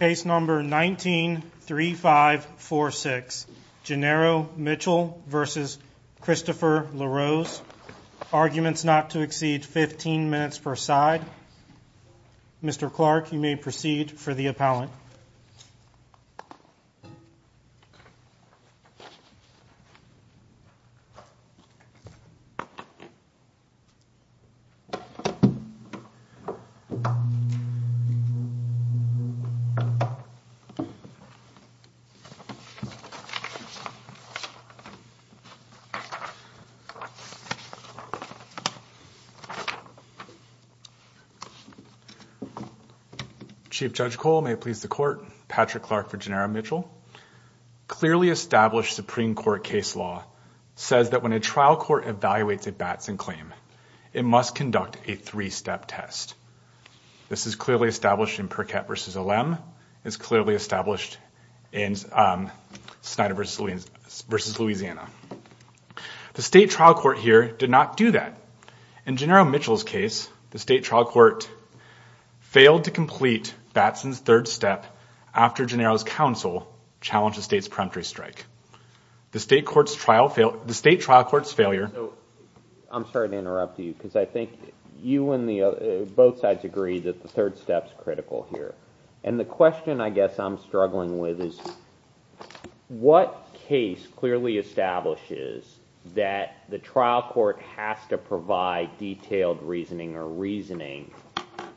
Case number 19-3546, Genero Mitchell v. Christopher LaRose Arguments not to exceed 15 minutes per side Mr. Clark, you may proceed for the appellant Chief Judge Cole, may it please the Court, Patrick Clark for Genero Mitchell Clearly established Supreme Court case law says that when a trial court evaluates a Batson claim, it must conduct a three-step test This is clearly established in Perkett v. Olem It's clearly established in Snyder v. Louisiana The state trial court here did not do that In Genero Mitchell's case, the state trial court failed to complete Batson's third step after Genero's counsel challenged the state's peremptory strike The state trial court's failure I'm sorry to interrupt you, because I think you and both sides agree that the third step's critical here And the question I guess I'm struggling with is What case clearly establishes that the trial court has to provide detailed reasoning or reasoning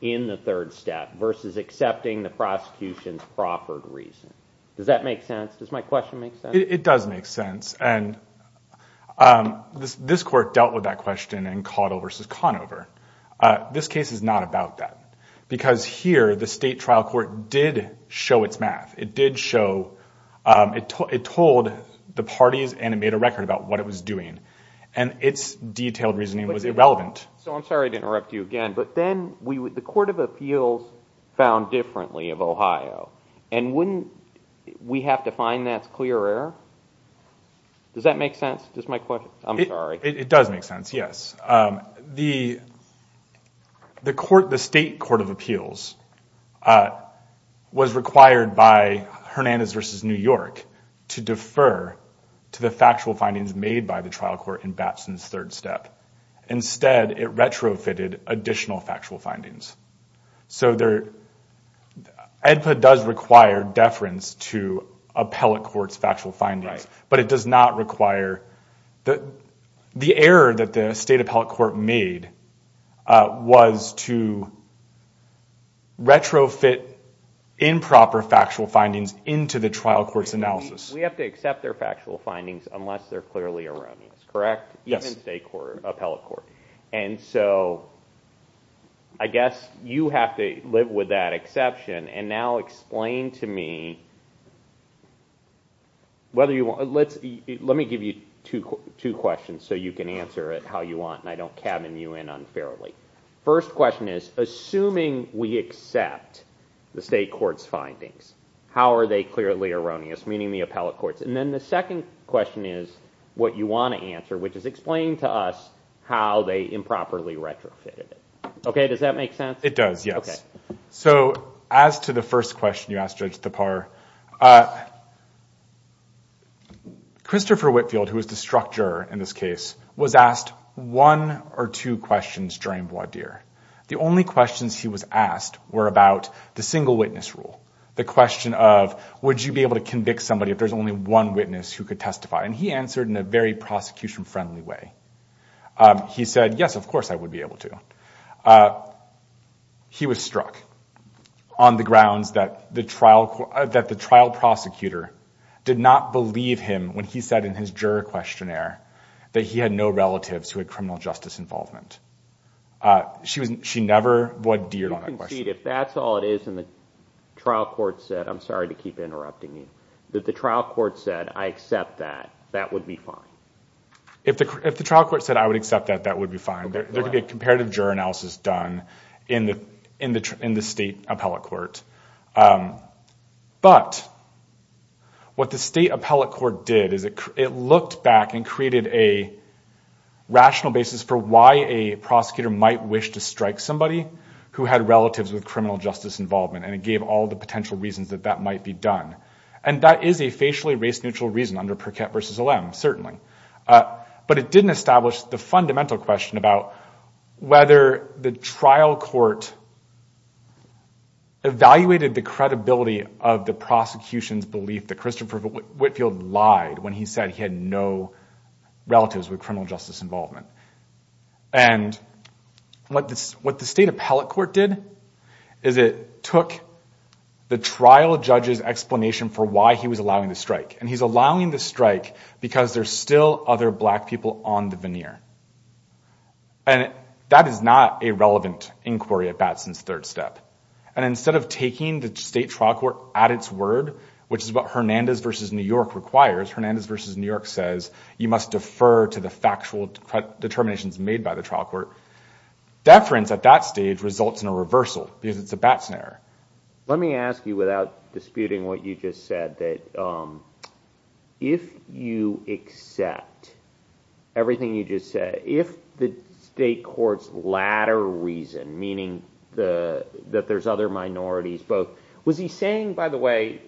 in the third step versus accepting the prosecution's proffered reason? Does that make sense? Does my question make sense? It does make sense This court dealt with that question in Caudill v. Conover This case is not about that Because here, the state trial court did show its math It did show It told the parties and it made a record about what it was doing And its detailed reasoning was irrelevant So I'm sorry to interrupt you again, but then the Court of Appeals found differently of Ohio And wouldn't we have to find that clear error? Does that make sense? It does make sense, yes The state Court of Appeals was required by Hernandez v. New York to defer to the factual findings made by the trial court in Batson's third step Instead, it retrofitted additional factual findings So EDPA does require deference to appellate court's factual findings But it does not require The error that the state appellate court made was to retrofit improper factual findings into the trial court's analysis We have to accept their factual findings unless they're clearly erroneous, correct? Even state appellate court And so I guess you have to live with that exception And now explain to me Let me give you two questions so you can answer it how you want And I don't cabin you in unfairly First question is, assuming we accept the state court's findings How are they clearly erroneous, meaning the appellate courts? And then the second question is what you want to answer Which is explain to us how they improperly retrofitted Okay, does that make sense? It does, yes So as to the first question you asked Judge Thapar Christopher Whitfield, who is the structure in this case, was asked one or two questions during voir dire The only questions he was asked were about the single witness rule The question of would you be able to convict somebody if there's only one witness who could testify And he answered in a very prosecution-friendly way He said, yes, of course I would be able to He was struck on the grounds that the trial prosecutor did not believe him When he said in his juror questionnaire that he had no relatives who had criminal justice involvement She never voir dired on that question If that's all it is and the trial court said I'm sorry to keep interrupting you If the trial court said I accept that, that would be fine If the trial court said I would accept that, that would be fine There could be a comparative juror analysis done in the state appellate court But what the state appellate court did is it looked back and created a rational basis For why a prosecutor might wish to strike somebody who had relatives with criminal justice involvement And it gave all the potential reasons that that might be done And that is a facially race-neutral reason under Perkett v. Olem, certainly But it didn't establish the fundamental question about whether the trial court Evaluated the credibility of the prosecution's belief that Christopher Whitfield lied When he said he had no relatives with criminal justice involvement And what the state appellate court did is it took the trial judge's explanation For why he was allowing the strike And he's allowing the strike because there's still other black people on the veneer And that is not a relevant inquiry at Batson's third step And instead of taking the state trial court at its word Which is what Hernandez v. New York requires Hernandez v. New York says you must defer to the factual determinations made by the trial court Deference at that stage results in a reversal because it's a Batson error Let me ask you without disputing what you just said If you accept everything you just said If the state court's latter reason, meaning that there's other minorities both Was he saying, by the way,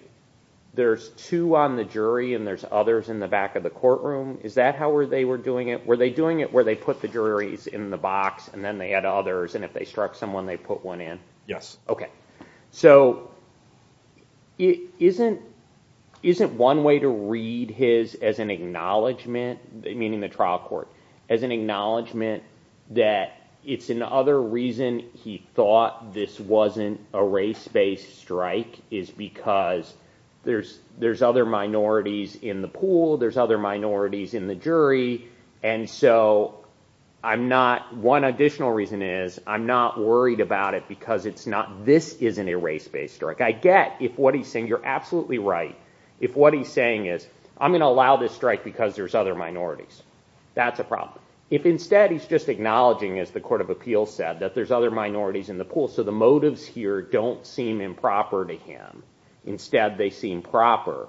there's two on the jury and there's others in the back of the courtroom Is that how they were doing it? Were they doing it where they put the juries in the box and then they had others And if they struck someone they put one in? Yes Okay, so isn't one way to read his as an acknowledgement Meaning the trial court As an acknowledgement that it's another reason he thought this wasn't a race based strike Is because there's other minorities in the pool There's other minorities in the jury And so I'm not One additional reason is I'm not worried about it because it's not This isn't a race based strike I get if what he's saying, you're absolutely right If what he's saying is I'm going to allow this strike because there's other minorities That's a problem If instead he's just acknowledging as the court of appeals said that there's other minorities in the pool So the motives here don't seem improper to him Instead they seem proper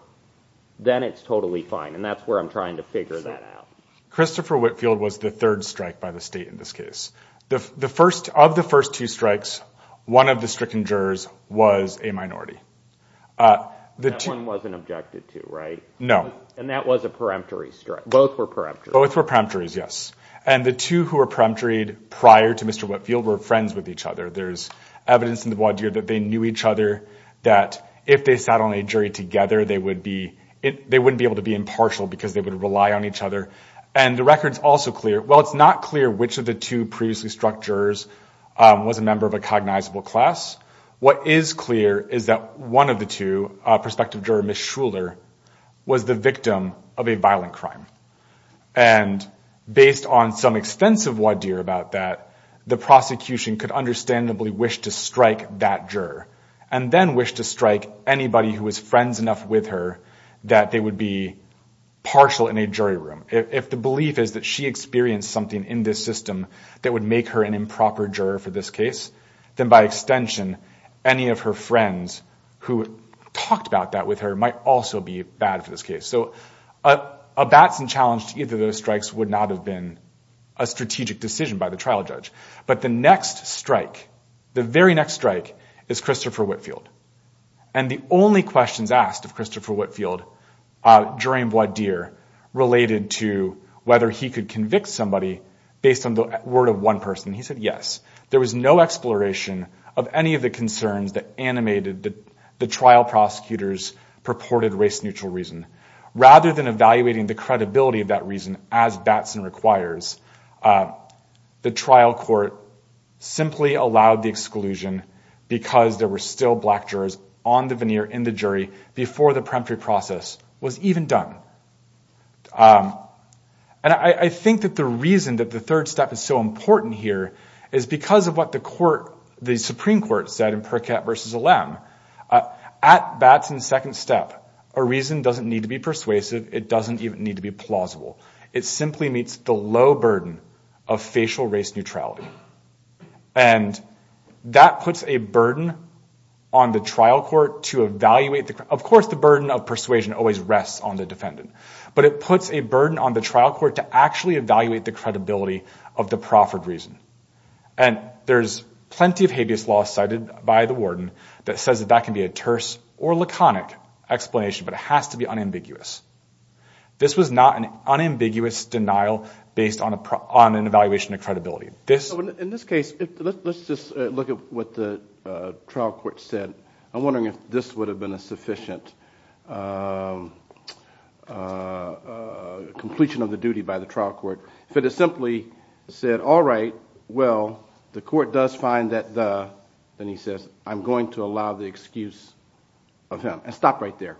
Then it's totally fine And that's where I'm trying to figure that out Christopher Whitfield was the third strike by the state in this case Of the first two strikes, one of the stricken jurors was a minority That one wasn't objected to, right? No And that was a peremptory strike, both were peremptory Both were peremptories, yes And the two who were peremptoried prior to Mr. Whitfield were friends with each other There's evidence in the voir dire that they knew each other That if they sat on a jury together they would be They wouldn't be able to be impartial because they would rely on each other And the record's also clear Well it's not clear which of the two previously struck jurors was a member of a cognizable class What is clear is that one of the two, prospective juror Ms. Shuler Was the victim of a violent crime And based on some extensive voir dire about that The prosecution could understandably wish to strike that juror And then wish to strike anybody who was friends enough with her That they would be partial in a jury room If the belief is that she experienced something in this system That would make her an improper juror for this case Then by extension, any of her friends who talked about that with her Might also be bad for this case So a Batson challenge to either of those strikes would not have been A strategic decision by the trial judge But the next strike, the very next strike, is Christopher Whitfield And the only questions asked of Christopher Whitfield During voir dire, related to whether he could convict somebody Based on the word of one person, he said yes There was no exploration of any of the concerns that animated The trial prosecutor's purported race-neutral reason Rather than evaluating the credibility of that reason As Batson requires, the trial court simply allowed the exclusion Because there were still black jurors on the veneer, in the jury Before the preemptory process was even done And I think that the reason that the third step is so important here Is because of what the Supreme Court said in Perkett v. Allem At Batson's second step, a reason doesn't need to be persuasive It doesn't even need to be plausible It simply meets the low burden of facial race neutrality And that puts a burden on the trial court to evaluate Of course the burden of persuasion always rests on the defendant But it puts a burden on the trial court to actually evaluate The credibility of the proffered reason And there's plenty of habeas laws cited by the warden That says that that can be a terse or laconic explanation But it has to be unambiguous This was not an unambiguous denial based on an evaluation of credibility In this case, let's just look at what the trial court said I'm wondering if this would have been a sufficient completion of the duty By the trial court If it had simply said, all right, well, the court does find that the Then he says, I'm going to allow the excuse of him And stop right there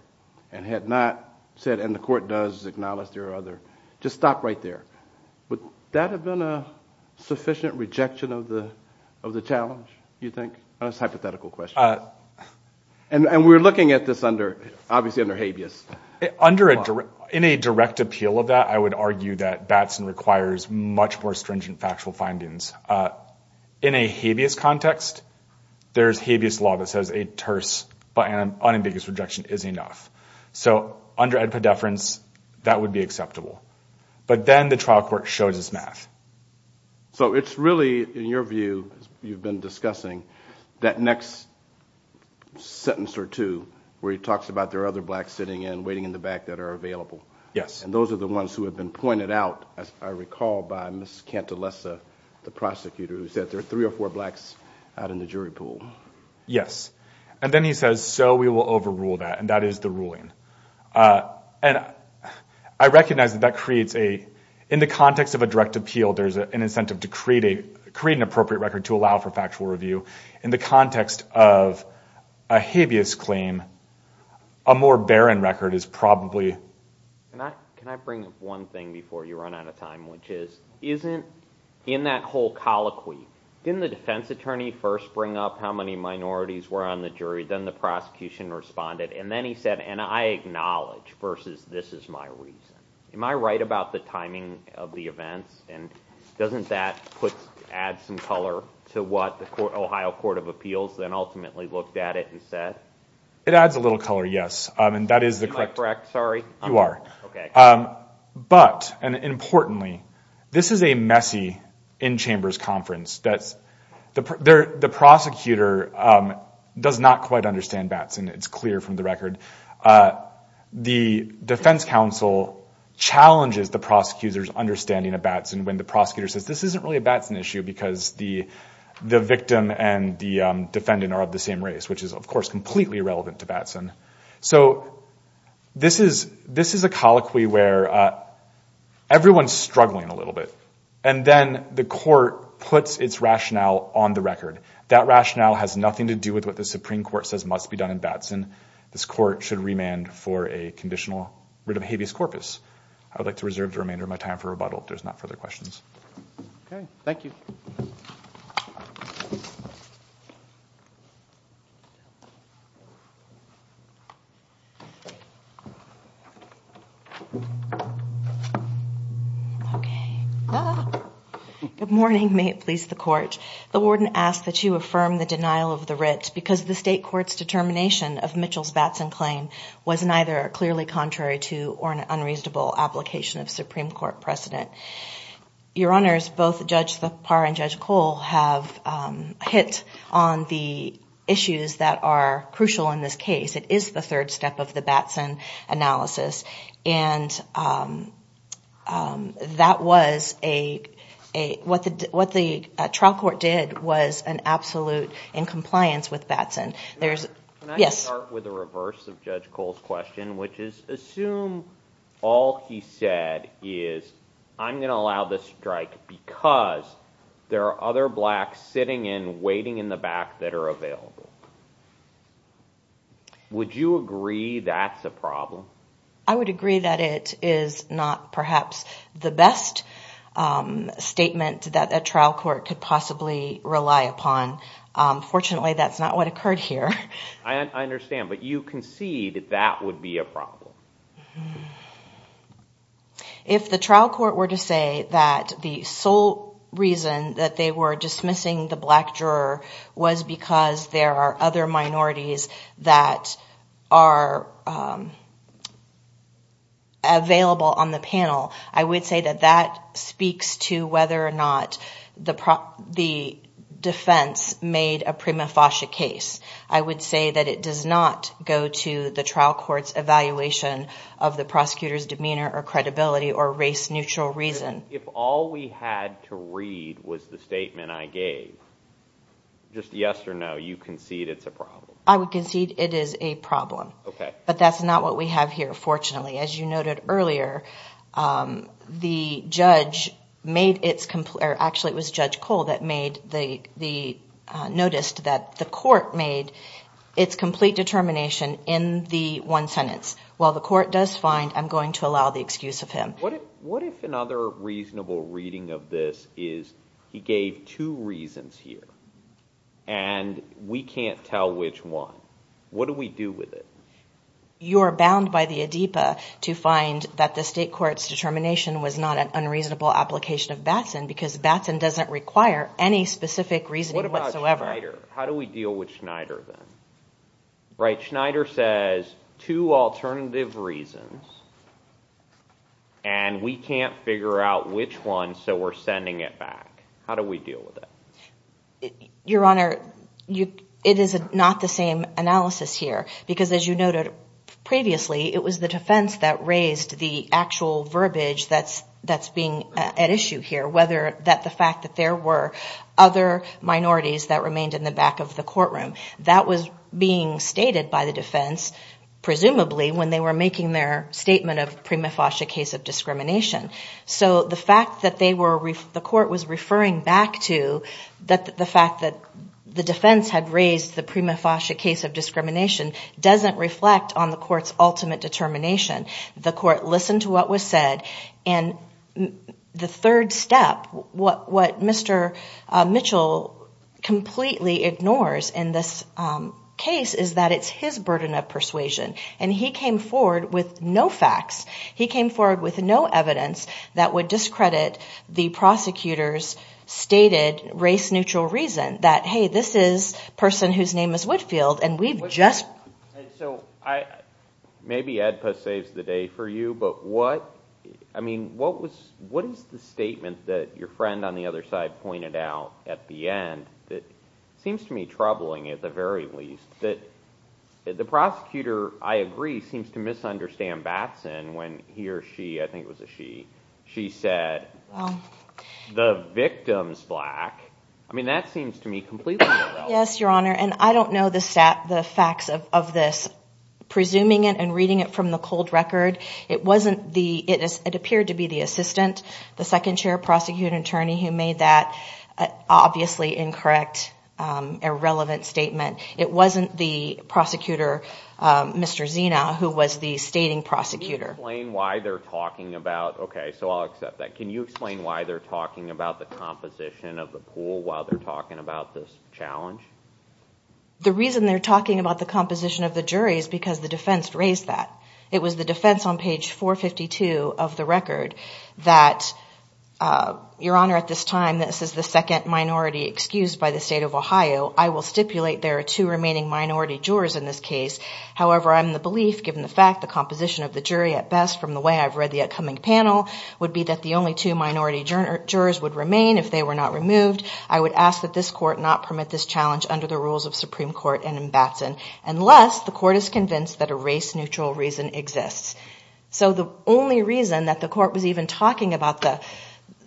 And had not said, and the court does acknowledge there are other Just stop right there Would that have been a sufficient rejection of the challenge, you think? That's a hypothetical question And we're looking at this under, obviously under habeas In a direct appeal of that, I would argue that Batson requires Much more stringent factual findings In a habeas context, there's habeas law that says a terse But an unambiguous rejection is enough So under edpedeference, that would be acceptable But then the trial court shows us math So it's really, in your view, you've been discussing That next sentence or two Where he talks about there are other blacks sitting in Waiting in the back that are available And those are the ones who have been pointed out As I recall by Ms. Cantalesa, the prosecutor Who said there are three or four blacks out in the jury pool Yes, and then he says, so we will overrule that And that is the ruling And I recognize that that creates a In the context of a direct appeal, there's an incentive to create Create an appropriate record to allow for factual review In the context of a habeas claim A more barren record is probably Can I bring up one thing before you run out of time Which is, isn't in that whole colloquy Didn't the defense attorney first bring up how many minorities Were on the jury, then the prosecution responded And then he said, and I acknowledge, versus this is my reason Am I right about the timing of the events? And doesn't that add some color to what The Ohio Court of Appeals then ultimately looked at it and said? It adds a little color, yes Am I correct, sorry? You are But, and importantly, this is a messy In-chambers conference The prosecutor does not quite understand Batson It's clear from the record The defense counsel challenges the prosecutor's Understanding of Batson when the prosecutor says This isn't really a Batson issue because the victim And the defendant are of the same race Which is, of course, completely irrelevant to Batson So this is a colloquy where Everyone's struggling a little bit And then the court puts its rationale on the record That rationale has nothing to do with what the Supreme Court says Must be done in Batson. This court should remand For a conditional writ of habeas corpus I would like to reserve the remainder of my time for rebuttal If there's not further questions Okay, thank you Okay Good morning, may it please the court The warden asks that you affirm the denial of the writ Because the state court's determination of Mitchell's Batson claim Was neither clearly contrary to Or an unreasonable application of Supreme Court precedent Your honors, both Judge Thapar and Judge Cole Have hit on the issues That are crucial in this case It is the third step of the Batson analysis And that was What the trial court did Was an absolute in compliance with Batson Can I start with the reverse of Judge Cole's question Which is assume all he said Is I'm going to allow this strike Because there are other blacks sitting in Waiting in the back that are available Would you agree that's a problem? I would agree that it is not Perhaps the best statement That a trial court could possibly rely upon Fortunately that's not what occurred here I understand, but you concede that would be a problem If the trial court were to say That the sole reason That they were dismissing the black juror Was because there are other minorities That are Available on the panel I would say that that speaks to whether or not The defense made a prima facie case I would say that it does not go to The trial court's evaluation Of the prosecutor's demeanor or credibility Or race neutral reason If all we had to read was the statement I gave Just yes or no, you concede it's a problem I would concede it is a problem But that's not what we have here fortunately As you noted earlier Actually it was Judge Cole That noticed that the court Made its complete determination In the one sentence While the court does find I'm going to allow the excuse of him What if another reasonable reading of this is He gave two reasons here And we can't tell which one What do we do with it You're bound by the ADEPA to find that the state court's determination Was not an unreasonable application of Batson Because Batson doesn't require any specific reasoning whatsoever What about Schneider, how do we deal with Schneider then Right, Schneider says two alternative reasons And we can't figure out which one So we're sending it back How do we deal with it Your Honor It is not the same analysis here Because as you noted previously It was the defense that raised the actual verbiage That's being at issue here Whether the fact that there were other minorities That remained in the back of the courtroom That was being stated by the defense Presumably when they were making their statement Of prima facie case of discrimination So the fact that the court was referring back to The fact that the defense had raised The prima facie case of discrimination Doesn't reflect on the court's ultimate determination The court listened to what was said And the third step What Mr. Mitchell completely ignores In this case is that it's his burden of persuasion And he came forward with no facts He came forward with no evidence that would discredit The prosecutor's stated race-neutral reason That hey, this is a person whose name is Whitfield And we've just Maybe ADPA saves the day for you But what is the statement that Your friend on the other side pointed out at the end That seems to me troubling at the very least That the prosecutor, I agree Seems to misunderstand Batson when he or she I think it was a she She said the victim's black I mean that seems to me completely irrelevant Yes, your honor, and I don't know the facts of this Presuming it and reading it from the cold record It appeared to be the assistant The second chair prosecutor attorney Who made that obviously incorrect Irrelevant statement It wasn't the prosecutor, Mr. Zina Who was the stating prosecutor Can you explain why they're talking about The composition of the pool While they're talking about this challenge The reason they're talking about the composition of the jury Is because the defense raised that It was the defense on page 452 of the record That your honor, at this time This is the second minority excused by the state of Ohio I will stipulate there are two remaining minority jurors In this case, however, I'm in the belief Given the fact the composition of the jury at best From the way I've read the upcoming panel Would be that the only two minority jurors would remain If they were not removed I would ask that this court not permit this challenge Under the rules of Supreme Court and in Batson Unless the court is convinced that a race-neutral reason exists So the only reason that the court was even talking about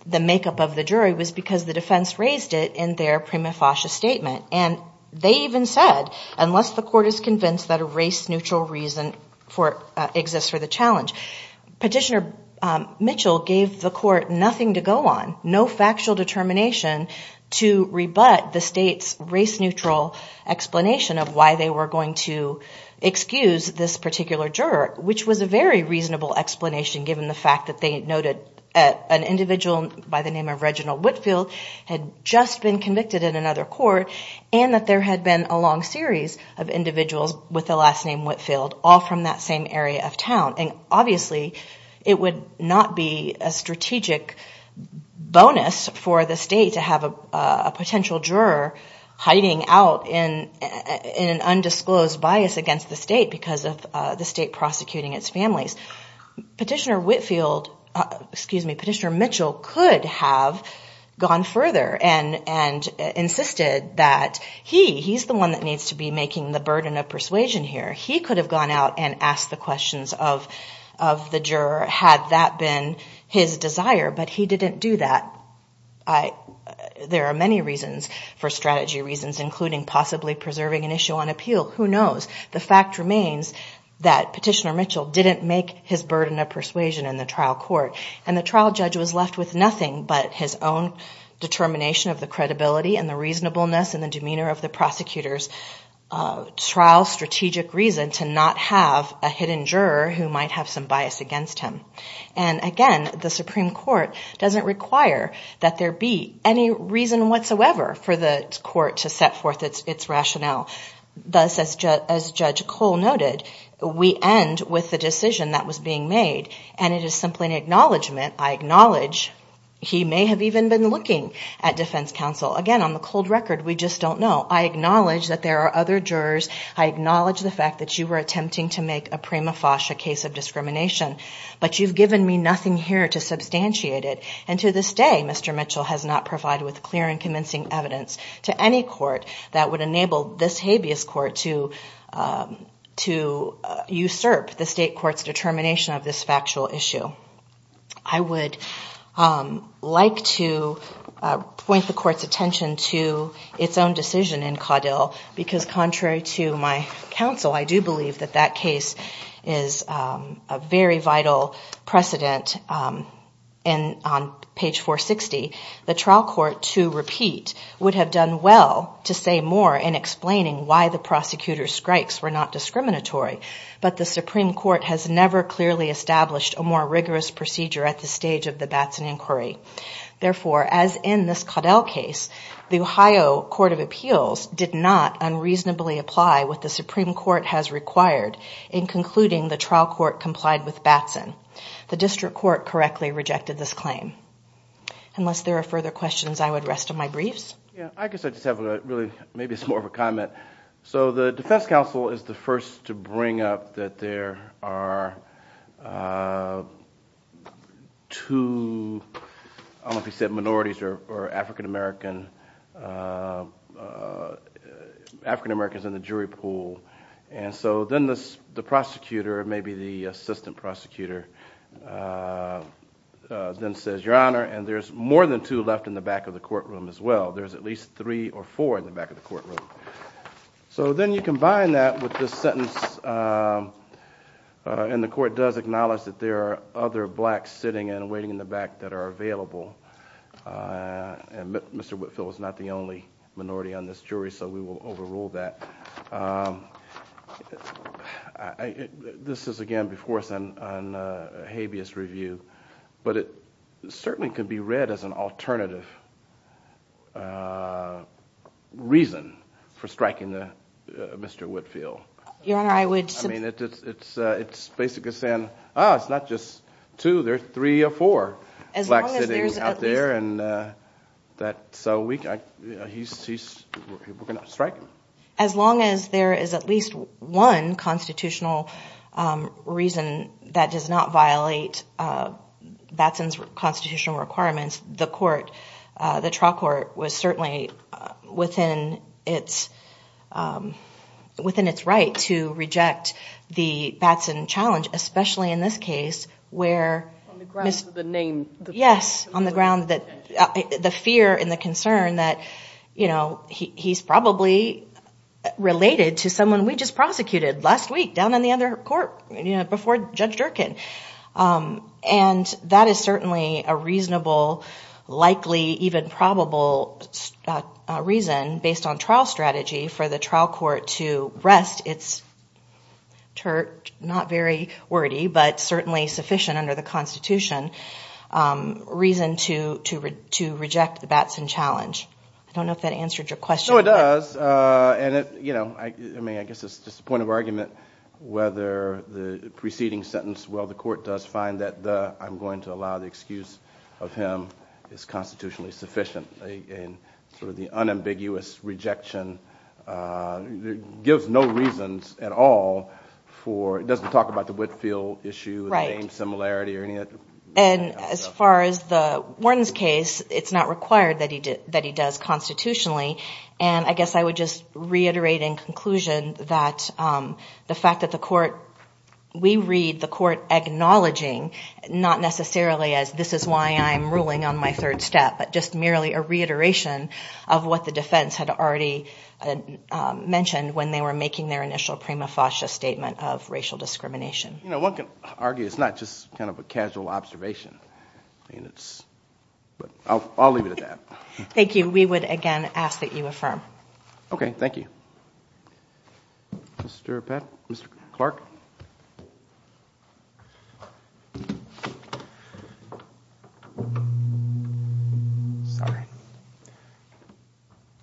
The makeup of the jury was because the defense raised it In their prima facie statement And they even said unless the court is convinced That a race-neutral reason exists for the challenge Petitioner Mitchell gave the court nothing to go on No factual determination to rebut the state's Race-neutral explanation of why they were going to Excuse this particular juror Which was a very reasonable explanation Given the fact that they noted an individual By the name of Reginald Whitfield had just been convicted In another court and that there had been a long series All from that same area of town And obviously it would not be a strategic bonus For the state to have a potential juror hiding out In an undisclosed bias against the state Because of the state prosecuting its families Petitioner Mitchell could have gone further And insisted that he He's the one that needs to be making the burden of persuasion here He could have gone out and asked the questions of The juror had that been his desire But he didn't do that There are many reasons for strategy reasons including Possibly preserving an issue on appeal Who knows? The fact remains that Petitioner Mitchell Didn't make his burden of persuasion in the trial court And the trial judge was left with nothing but his own Determination of the credibility and the reasonableness And the demeanor of the prosecutor's trial strategic reason To not have a hidden juror who might have some bias against him And again the Supreme Court doesn't require That there be any reason whatsoever For the court to set forth its rationale Thus as Judge Cole noted We end with the decision that was being made And it is simply an acknowledgement I acknowledge he may have even been looking at defense counsel Again on the cold record we just don't know I acknowledge that there are other jurors I acknowledge the fact that you were attempting to make A prima facie case of discrimination But you've given me nothing here to substantiate it And to this day Mr. Mitchell has not provided with clear and convincing evidence To any court that would enable this habeas court To usurp the state court's determination Of this factual issue I would like to Point the court's attention to its own decision in Caudill Because contrary to my counsel I do believe that that case is A very vital precedent And on page 460 The trial court to repeat would have done well To say more in explaining why the prosecutor's strikes Were not discriminatory But the Supreme Court has never clearly established A more rigorous procedure at the stage of the Batson inquiry Therefore as in this Caudill case The Ohio Court of Appeals did not unreasonably apply What the Supreme Court has required In concluding the trial court complied with Batson The district court correctly rejected this claim Unless there are further questions I would rest on my briefs I guess I just have maybe more of a comment So the defense counsel is the first to bring up That there are I don't know if he said minorities or African American African Americans in the jury pool And so then the prosecutor Maybe the assistant prosecutor Then says your honor And there's more than two left in the back of the courtroom as well There's at least three or four in the back of the courtroom So then you combine that with this sentence And the court does acknowledge That there are other blacks sitting and waiting in the back That are available And Mr. Whitfield is not the only minority on this jury So we will overrule that This is again before us on A habeas review But it certainly could be read as an alternative Reason for striking Mr. Whitfield Your honor I would It's basically saying It's not just two there's three or four Blacks sitting out there So we're going to strike him As long as there is at least one constitutional Reason that does not violate Batson's constitutional requirements The trial court was certainly Within its Right to reject the Batson challenge Especially in this case On the grounds of the name The fear and the concern He's probably related to someone We just prosecuted last week down on the other court Before Judge Durkin And that is certainly a reasonable Likely even probable Reason based on trial strategy for the trial court To rest its Not very wordy but certainly sufficient under the Constitution Reason to To reject the Batson challenge I don't know if that answered your question I mean I guess it's just a point of argument Whether the preceding sentence Well the court does find that I'm going to allow the excuse Of him is constitutionally sufficient And sort of the unambiguous rejection Gives no reasons at all For it doesn't talk about the Whitfield issue The name similarity or any of that And as far as the Wharton's case It's not required that he does constitutionally And I guess I would just reiterate in conclusion That the fact that the court We read the court acknowledging Not necessarily as this is why I'm ruling on my third step But just merely a reiteration of what the defense Had already mentioned when they were making Their initial prima facie statement of racial discrimination You know one can argue it's not just kind of a casual observation I mean it's I'll leave it at that Thank you we would again ask that you affirm Okay thank you Mr. Clark Sorry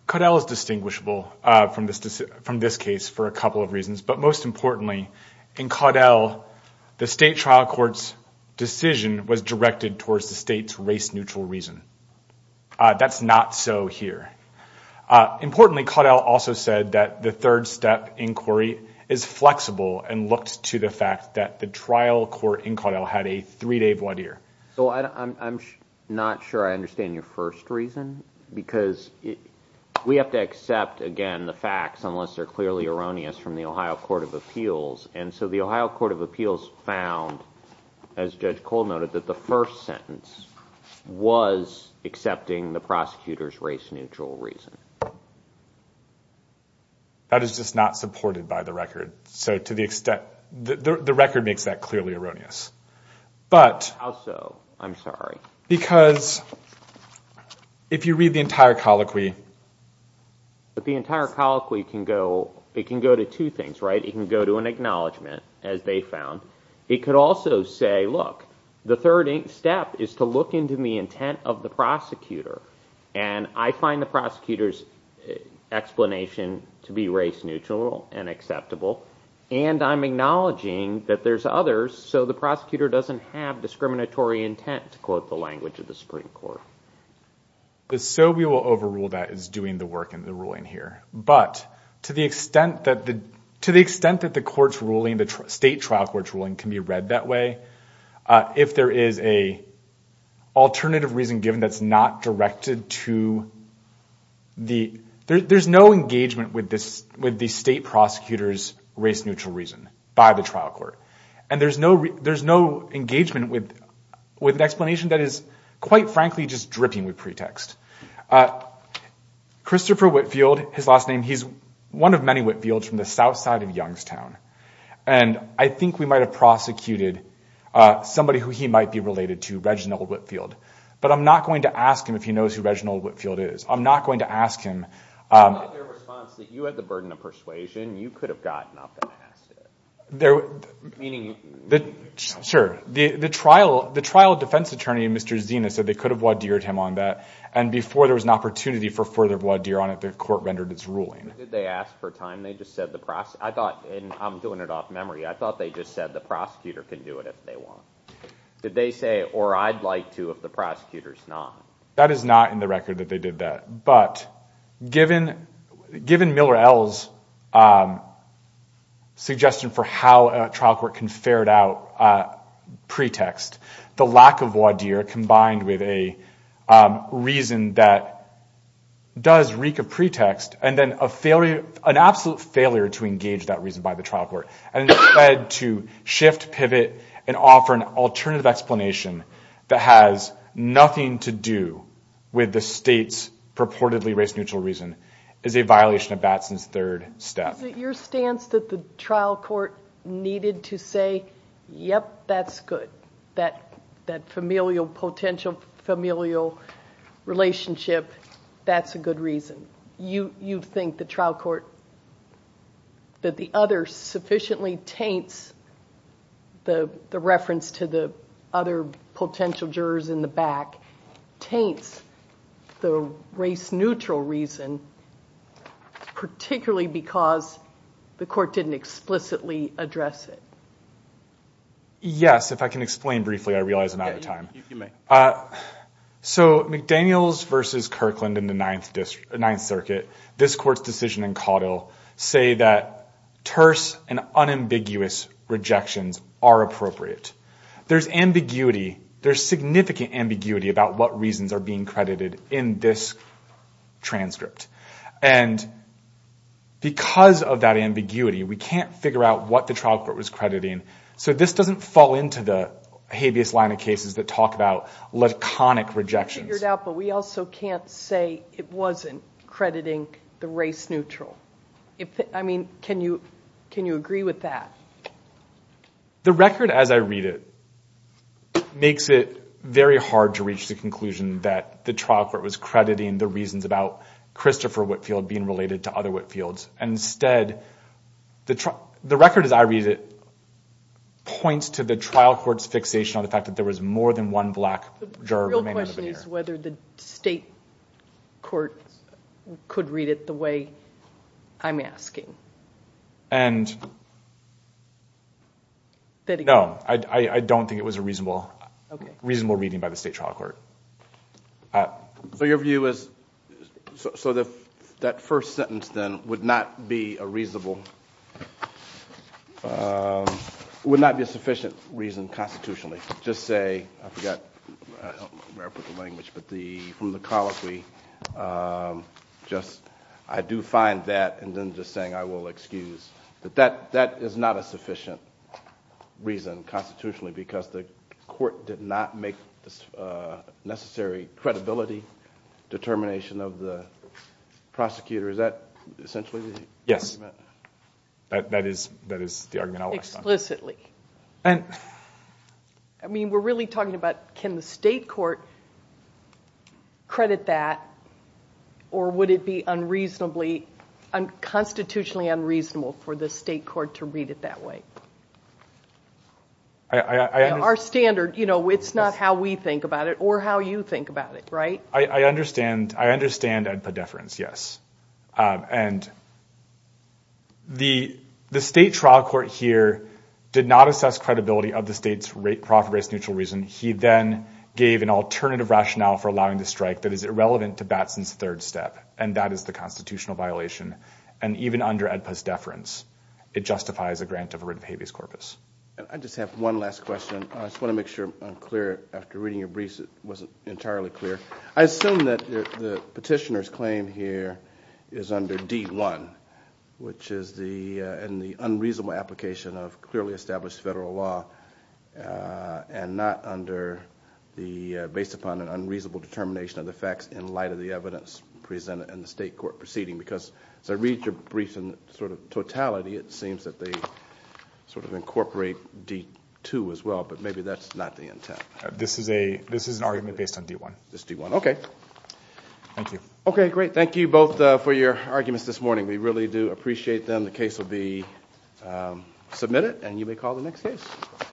Caudel is distinguishable From this case for a couple of reasons But most importantly in Caudel The state trial court's decision was directed Towards the state's race neutral reason That's not so here Importantly Caudel also said that the third step Inquiry is flexible and looked to the fact That the trial court in Caudel had a three day So I'm not sure I understand your first reason Because we have to accept Again the facts unless they're clearly erroneous And so the Ohio Court of Appeals found As Judge Cole noted that the first sentence Was accepting the prosecutor's race neutral Reason That is just not supported by the record So to the extent that the record makes that clearly erroneous But also I'm sorry Because If you read the entire colloquy The entire colloquy can go It can go to two things right It can go to an acknowledgement as they found It could also say look the third step Is to look into the intent of the prosecutor And I find the prosecutor's explanation To be race neutral and acceptable And I'm acknowledging that there's others So the prosecutor doesn't have discriminatory intent To quote the language of the Supreme Court So we will overrule that as doing the work In the ruling here But to the extent that the court's ruling The state trial court's ruling can be read that way If there is an alternative reason given That's not directed to There's no engagement with the state prosecutor's Race neutral reason by the trial court And there's no engagement With an explanation that is quite frankly Just dripping with pretext Christopher Whitfield He's one of many Whitfields from the south side of Youngstown And I think we might have prosecuted Somebody who he might be related to But I'm not going to ask him if he knows who Reginald Whitfield is I'm not going to ask him I like their response that you had the burden of persuasion You could have gotten up and passed it Meaning The trial defense attorney Mr. Zena said they could have Wodeered him on that and before there was an opportunity For further wodeer on it the court rendered its ruling Did they ask for time? I'm doing it off memory I thought they just said the prosecutor Can do it if they want Did they say or I'd like to if the prosecutor is not? That is not in the record that they did that But given Miller-Ells Suggestion for how A trial court can ferret out Pretext the lack of wodeer combined with a Reason that does Reek of pretext and then a failure An absolute failure to engage that reason by the trial court And instead to shift pivot and offer an alternative Explanation that has nothing to do With the state's purportedly race neutral reason Is a violation of Batson's third step Is it your stance that the trial court Needed to say yep that's good That familial potential Familial relationship that's a good reason You think the trial court That the other sufficiently taints The reference to the Other potential jurors in the back Taints the race neutral Reason particularly because The court didn't explicitly address it Yes if I can explain Briefly I realize I'm out of time So McDaniels versus Kirkland in the ninth district This court's decision in Caudill Say that terse and unambiguous Rejections are appropriate There's ambiguity there's significant ambiguity about what Reasons are being credited in this transcript And because of that Ambiguity we can't figure out what the trial court was Crediting so this doesn't fall into the Habeas line of cases that talk about Laconic rejections But we also can't say it wasn't Crediting the race neutral Can you agree with that The record as I read it Makes it very hard to reach the conclusion That the trial court was crediting the reasons about Christopher Whitfield being related to other Whitfields Instead the record as I read it Points to the trial court's fixation on the fact that there was more than one Black State court could read it the way I'm asking And No I don't think it was a reasonable Reasonable reading by the state trial court So your view is That first sentence then would not be a reasonable Would not be a sufficient Reason constitutionally just say I forgot where I put the language but from the Colloquy I do find that and then just saying I will excuse That that is not a sufficient Reason constitutionally because the court did not make Necessary credibility Determination of the prosecutor That is Explicitly I mean we're really talking about Can the state court Credit that or would it be unreasonably Unconstitutionally unreasonable for the state court To read it that way Our standard you know it's not how we think about it Or how you think about it right I understand And The state trial court here did not assess credibility Of the state's rate profit based neutral reason he then Gave an alternative rationale for allowing the strike that Is irrelevant to Batson's third step and that is the Constitutional violation and even under Edpus deference It justifies a grant of a writ of habeas corpus I just have one last question I just want to make sure I'm clear after reading your briefs it wasn't entirely Clear I assume that the petitioners claim here Is under d1 which is the And the unreasonable application of clearly established Federal law and not Under the based upon an unreasonable determination of The facts in light of the evidence presented in the state Court proceeding because I read your briefs and sort of Totality it seems that they sort of incorporate D2 as well but maybe that's not the intent This is a this is an argument based on d1 this d1 okay Thank you okay great thank you both For your arguments this morning we really do appreciate them the case Will be submitted and you may call the next Case